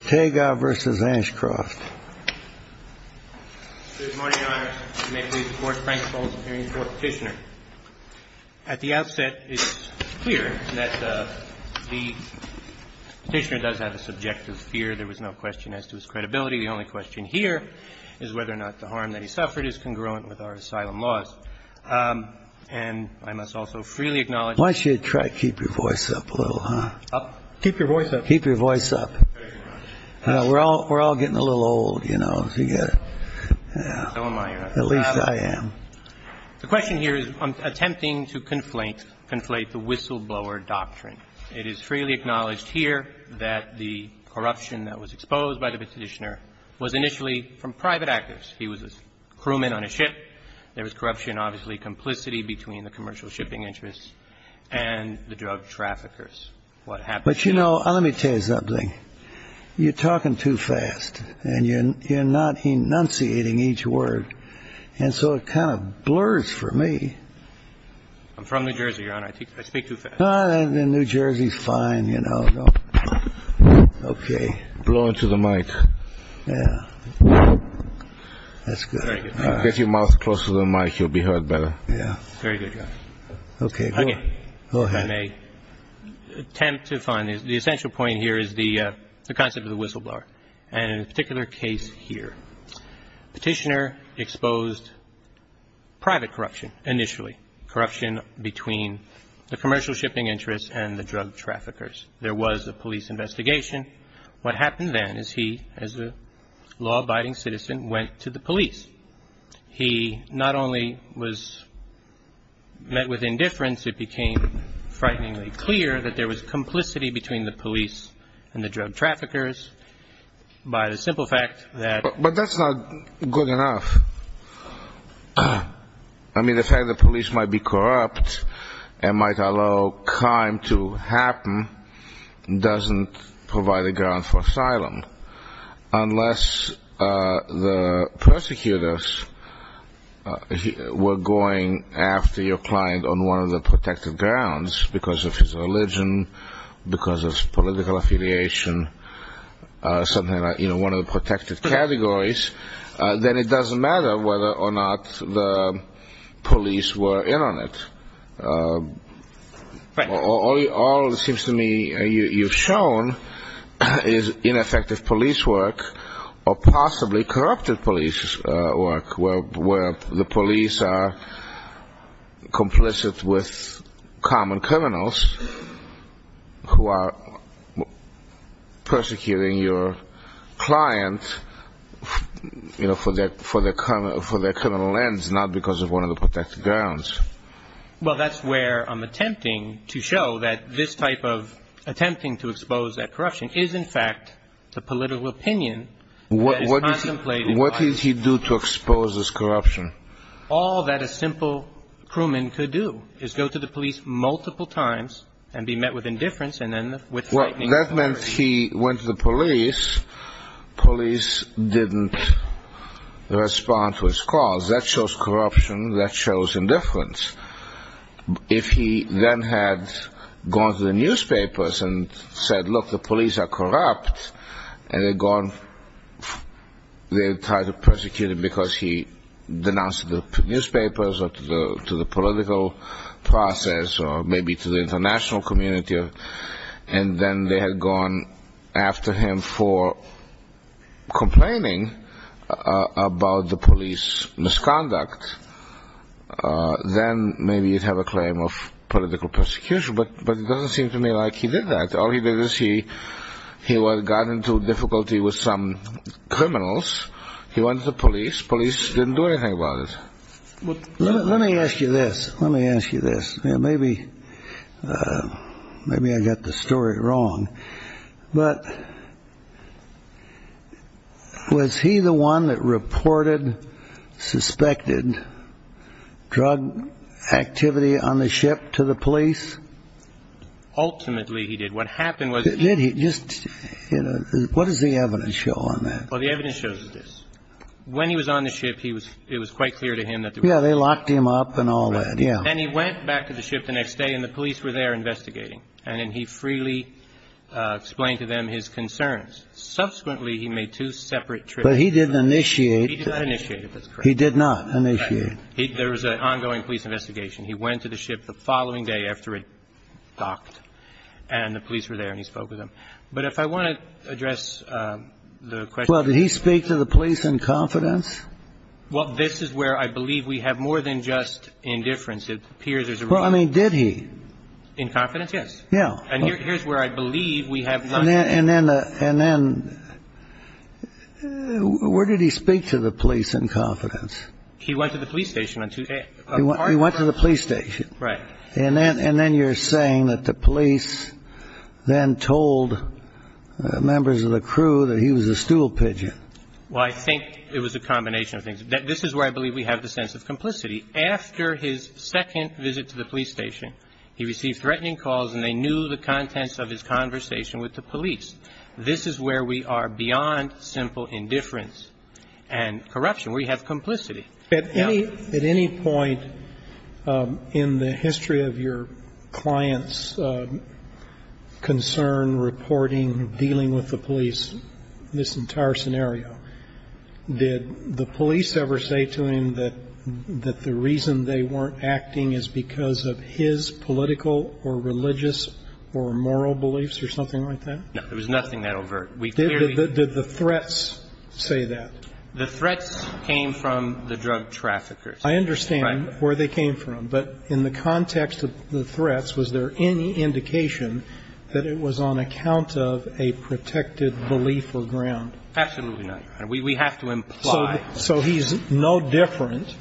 Good morning, Your Honor. You may please report Frank Bowles in the hearing before the Petitioner. At the outset, it's clear that the Petitioner does have a subjective fear. There was no question as to his credibility. The only question here is whether or not the harm that he suffered is congruent with our asylum laws. And I must also freely acknowledge… Why don't you try to keep your voice up a little, huh? Keep your voice up. Keep your voice up. Thank you, Your Honor. We're all getting a little old, you know. At least I am. The question here is attempting to conflate the whistleblower doctrine. It is freely acknowledged here that the corruption that was exposed by the Petitioner was initially from private actors. He was a crewman on a ship. There was corruption, obviously complicity between the commercial shipping interests and the drug traffickers. What happened… But, you know, let me tell you something. You're talking too fast, and you're not enunciating each word. And so it kind of blurs for me. I'm from New Jersey, Your Honor. I speak too fast. New Jersey's fine, you know. Okay. Blow into the mic. Yeah. That's good. Get your mouth closer to the mic. You'll be heard better. Yeah. Very good, Your Honor. Okay. Go ahead. The essential point here is the concept of the whistleblower. And in a particular case here, Petitioner exposed private corruption initially, corruption between the commercial shipping interests and the drug traffickers. There was a police investigation. What happened then is he, as a law-abiding citizen, went to the police. He not only was met with indifference, it became frighteningly clear that there was complicity between the police and the drug traffickers by the simple fact that… were going after your client on one of the protected grounds because of his religion, because of political affiliation, something like, you know, one of the protected categories, then it doesn't matter whether or not the police were in on it. Right. All it seems to me you've shown is ineffective police work or possibly corrupted police work where the police are complicit with common criminals who are persecuting your client, you know, for their criminal ends, not because of one of the protected grounds. Well, that's where I'm attempting to show that this type of attempting to expose that corruption is, in fact, the political opinion that is contemplated by… What did he do to expose this corruption? All that a simple crewman could do is go to the police multiple times and be met with indifference and then with frightening… Well, that meant he went to the police. Police didn't respond to his calls. That shows corruption. That shows indifference. If he then had gone to the newspapers and said, look, the police are corrupt, and they had gone, they had tried to persecute him because he denounced the newspapers or to the political process or maybe to the international community, and then they had gone after him for complaining about the police misconduct, then maybe he'd have a claim of political persecution. But it doesn't seem to me like he did that. All he did is he got into difficulty with some criminals. He went to the police. Police didn't do anything about it. Let me ask you this. Let me ask you this. Maybe I got the story wrong. But was he the one that reported suspected drug activity on the ship to the police? Ultimately, he did. What happened was… Did he? Just, you know, what does the evidence show on that? Well, the evidence shows this. When he was on the ship, it was quite clear to him that… Yeah, they locked him up and all that, yeah. And he went back to the ship the next day, and the police were there investigating. And he freely explained to them his concerns. Subsequently, he made two separate trips. But he didn't initiate. He did not initiate, if that's correct. He did not initiate. There was an ongoing police investigation. He went to the ship the following day after it docked, and the police were there, and he spoke with them. But if I want to address the question… Well, did he speak to the police in confidence? Well, this is where I believe we have more than just indifference. It appears there's a… Well, I mean, did he? In confidence? Yes. Yeah. And here's where I believe we have none. And then where did he speak to the police in confidence? He went to the police station on Tuesday. He went to the police station. Right. And then you're saying that the police then told members of the crew that he was a stool pigeon. Well, I think it was a combination of things. This is where I believe we have the sense of complicity. After his second visit to the police station, he received threatening calls, and they knew the contents of his conversation with the police. This is where we are beyond simple indifference and corruption. We have complicity. At any point in the history of your clients' concern, reporting, dealing with the police, this entire scenario, did the police ever say to him that the reason they weren't acting is because of his political or religious or moral beliefs or something like that? No. There was nothing that overt. We clearly… Did the threats say that? The threats came from the drug traffickers. I understand where they came from. But in the context of the threats, was there any indication that it was on account of a protected belief or ground? Absolutely not, Your Honor. We have to imply… So he's no different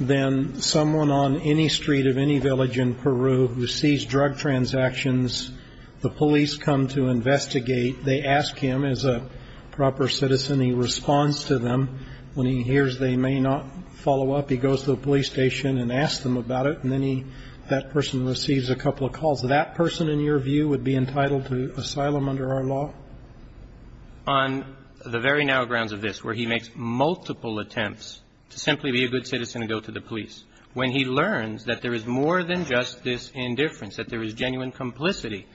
than someone on any street of any village in Peru who sees drug transactions. The police come to investigate. They ask him as a proper citizen. He responds to them. When he hears they may not follow up, he goes to the police station and asks them about it. And then he – that person receives a couple of calls. That person, in your view, would be entitled to asylum under our law? On the very now grounds of this, where he makes multiple attempts to simply be a good citizen and go to the police, when he learns that there is more than just this indifference, that there is genuine complicity,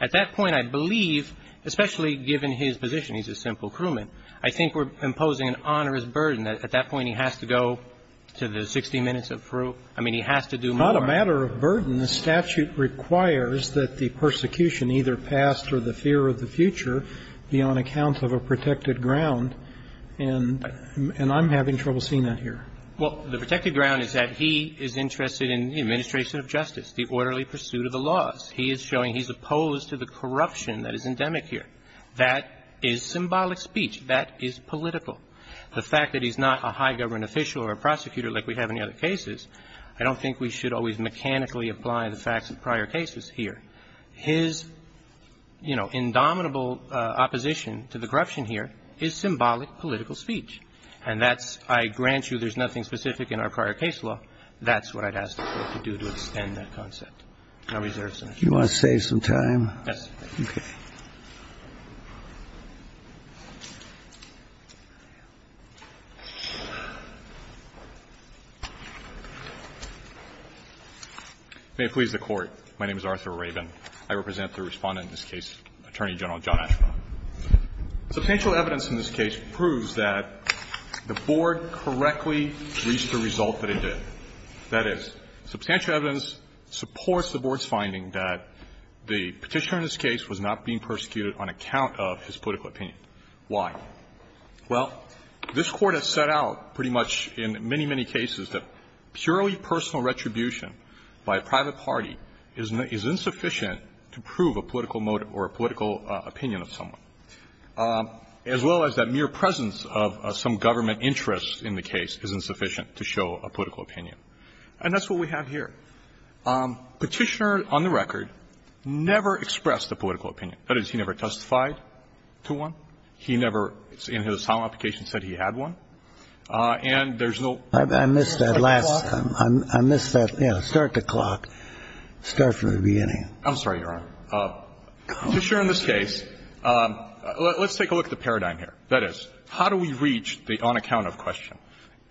at that point I believe, especially given his position, he's a simple crewman, I think we're imposing an onerous burden. At that point he has to go to the 60 Minutes of Peru. I mean, he has to do more. It's not a matter of burden. The statute requires that the persecution, either past or the fear of the future, be on account of a protected ground. And I'm having trouble seeing that here. Well, the protected ground is that he is interested in the administration of justice, the orderly pursuit of the laws. He is showing he's opposed to the corruption that is endemic here. That is symbolic speech. That is political. The fact that he's not a high government official or a prosecutor like we have in the other cases, I don't think we should always mechanically apply the facts of prior cases here. His, you know, indomitable opposition to the corruption here is symbolic political speech. And that's – I grant you there's nothing specific in our prior case law. That's what I'd ask the Court to do to extend that concept. I reserve some time. You want to save some time? Yes. Okay. May it please the Court. My name is Arthur Rabin. I represent the Respondent in this case, Attorney General John Ashcroft. Substantial evidence in this case proves that the Board correctly reached the result that it did. That is, substantial evidence supports the Board's finding that the Petitioner in this case was not being persecuted on account of his political opinion. Why? Well, this Court has set out pretty much in many, many cases that purely personal retribution by a private party is insufficient to prove a political motive or a political opinion of someone, as well as that mere presence of some government interest in the case is insufficient to show a political opinion. And that's what we have here. Petitioner, on the record, never expressed a political opinion. That is, he never testified to one. He never, in his asylum application, said he had one. And there's no – I missed that last – I missed that, you know, start the clock. Start from the beginning. I'm sorry, Your Honor. Petitioner in this case – let's take a look at the paradigm here. That is, how do we reach the on-account-of question?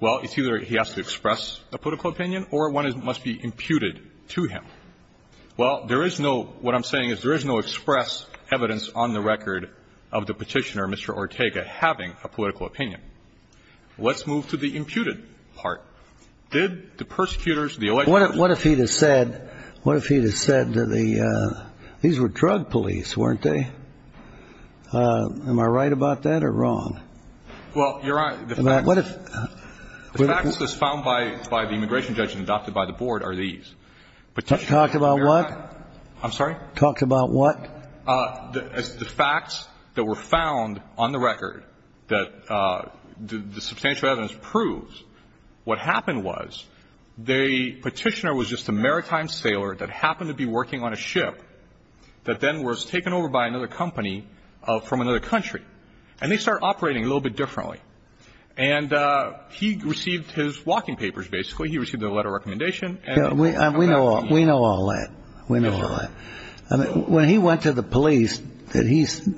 Well, it's either he has to express a political opinion, or one must be imputed to him. Well, there is no – what I'm saying is there is no express evidence on the record of the Petitioner, Mr. Ortega, having a political opinion. Let's move to the imputed part. Did the persecutors, the – What if he had said – what if he had said that the – these were drug police, weren't they? Am I right about that or wrong? Well, Your Honor, the facts – What if – The facts that's found by the immigration judge and adopted by the Board are these. Petitioner – Talked about what? I'm sorry? Talked about what? The facts that were found on the record that the substantial evidence proves, what happened was the Petitioner was just a maritime sailor that happened to be working on a ship that then was taken over by another company from another country. And they started operating a little bit differently. And he received his walking papers, basically. He received a letter of recommendation. We know all that. We know all that. When he went to the police,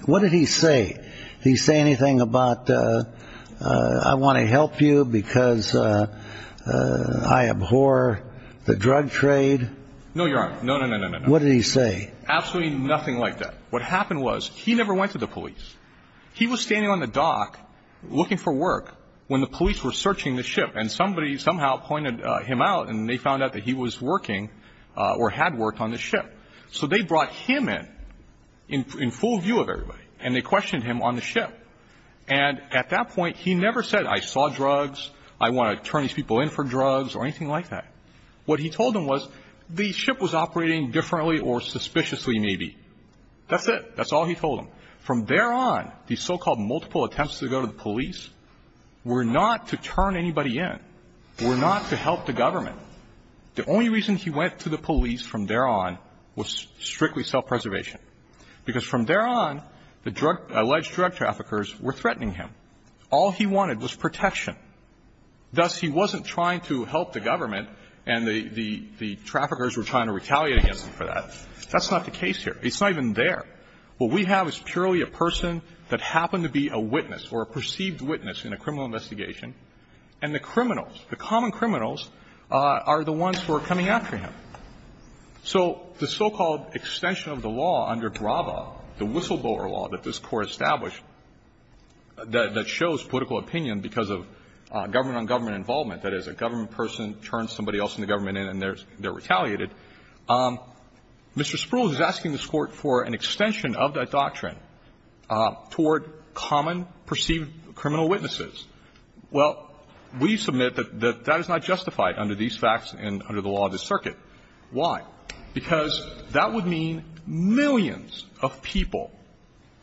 what did he say? Did he say anything about, I want to help you because I abhor the drug trade? No, Your Honor. No, no, no, no, no. What did he say? Absolutely nothing like that. What happened was he never went to the police. He was standing on the dock looking for work when the police were searching the ship. And somebody somehow pointed him out, and they found out that he was working or had worked on the ship. So they brought him in, in full view of everybody, and they questioned him on the ship. And at that point, he never said, I saw drugs, I want to turn these people in for drugs or anything like that. What he told them was the ship was operating differently or suspiciously, maybe. That's it. That's all he told them. From there on, the so-called multiple attempts to go to the police were not to turn anybody in, were not to help the government. The only reason he went to the police from there on was strictly self-preservation, because from there on, the drug – alleged drug traffickers were threatening him. All he wanted was protection. Thus, he wasn't trying to help the government, and the traffickers were trying to retaliate against him for that. That's not the case here. It's not even there. What we have is purely a person that happened to be a witness or a perceived witness in a criminal investigation, and the criminals, the common criminals, are the ones who are coming after him. So the so-called extension of the law under Brava, the whistleblower law that this government-on-government involvement, that is, a government person turns somebody else in the government in and they're retaliated, Mr. Spruill is asking this Court for an extension of that doctrine toward common perceived criminal witnesses. Well, we submit that that is not justified under these facts and under the law of this circuit. Why? Because that would mean millions of people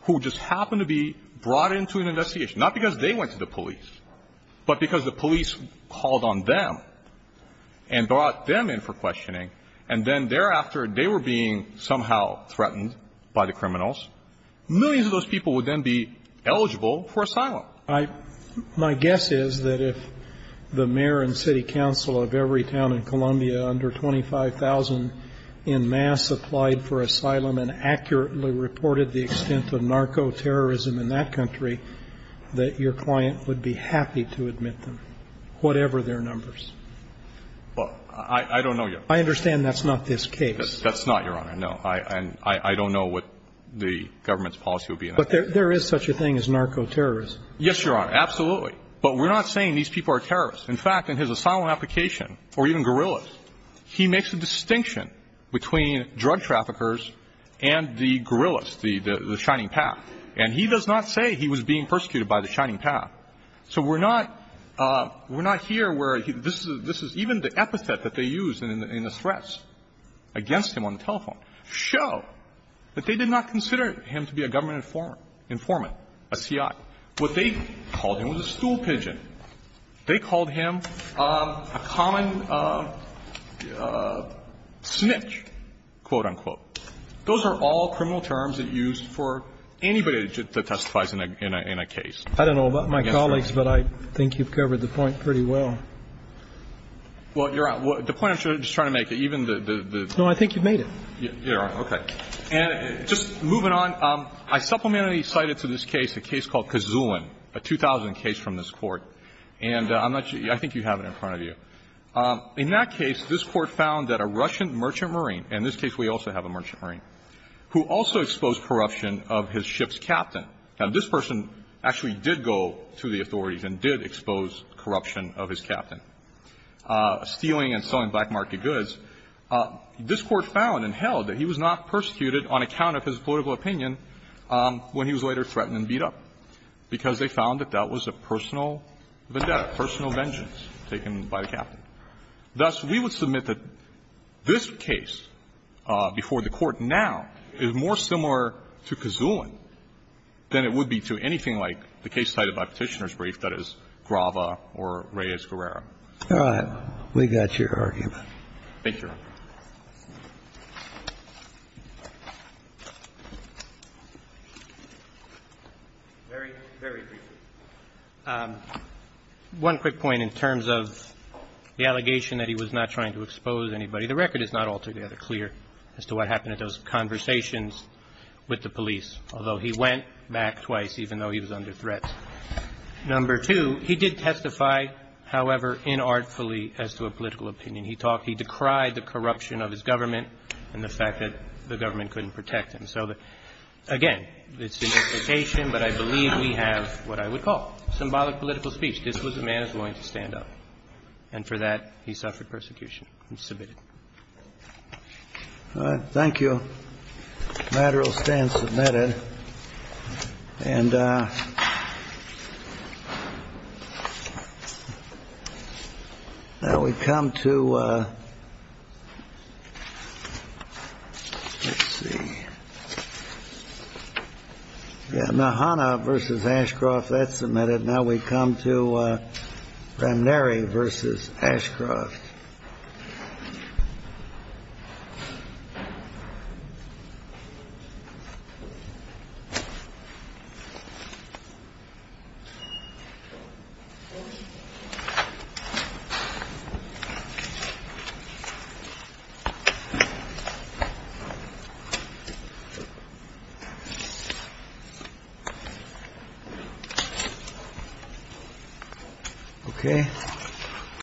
who just happened to be brought into an asylum, but because the police called on them and brought them in for questioning and then thereafter they were being somehow threatened by the criminals, millions of those people would then be eligible for asylum. I – my guess is that if the mayor and city council of every town in Columbia under 25,000 in mass applied for asylum and accurately reported the extent of narco-terrorism in that country, that your client would be happy to admit them, whatever their numbers. Well, I don't know yet. I understand that's not this case. That's not, Your Honor. No. I don't know what the government's policy would be. But there is such a thing as narco-terrorism. Yes, Your Honor. Absolutely. But we're not saying these people are terrorists. In fact, in his asylum application, or even guerrillas, he makes a distinction between drug traffickers and the guerrillas, the shining path. And he does not say he was being persecuted by the shining path. So we're not – we're not here where this is – even the epithet that they use in the threats against him on the telephone show that they did not consider him to be a government informant, a C.I. What they called him was a stool pigeon. They called him a common snitch, quote, unquote. Those are all criminal terms that used for anybody that testifies in a case. I don't know about my colleagues, but I think you've covered the point pretty well. Well, Your Honor, the point I'm just trying to make, even the – No, I think you've made it. You're right. Okay. And just moving on, I supplemented and cited to this case a case called Kazulin, a 2000 case from this Court. And I'm not – I think you have it in front of you. In that case, this Court found that a Russian merchant marine – and in this case we also have a merchant marine – who also exposed corruption of his ship's captain – now, this person actually did go to the authorities and did expose corruption of his captain – stealing and selling black market goods, this Court found and held that he was not persecuted on account of his political opinion when he was later threatened and beat up, because they found that that was a personal vendetta, personal vengeance taken by the captain. Thus, we would submit that this case before the Court now is more similar to Kazulin than it would be to anything like the case cited by Petitioner's brief that is Grava or Reyes-Guerrero. All right. Thank you, Your Honor. Very, very briefly. One quick point in terms of the allegation that he was not trying to expose anybody. The record is not altogether clear as to what happened at those conversations with the police, although he went back twice, even though he was under threat. Number two, he did testify, however, inartfully as to a political opinion. He talked – he decried the corruption of his government and the fact that the government couldn't protect him. So, again, it's an implication, but I believe we have what I would call symbolic political speech. This was a man who was willing to stand up, and for that, he suffered persecution and submitted. All right. Thank you. The matter will stand submitted. And now we come to – let's see. Yeah. Mahana v. Ashcroft, that's submitted. Now we come to Ramnery v. Ashcroft. Okay.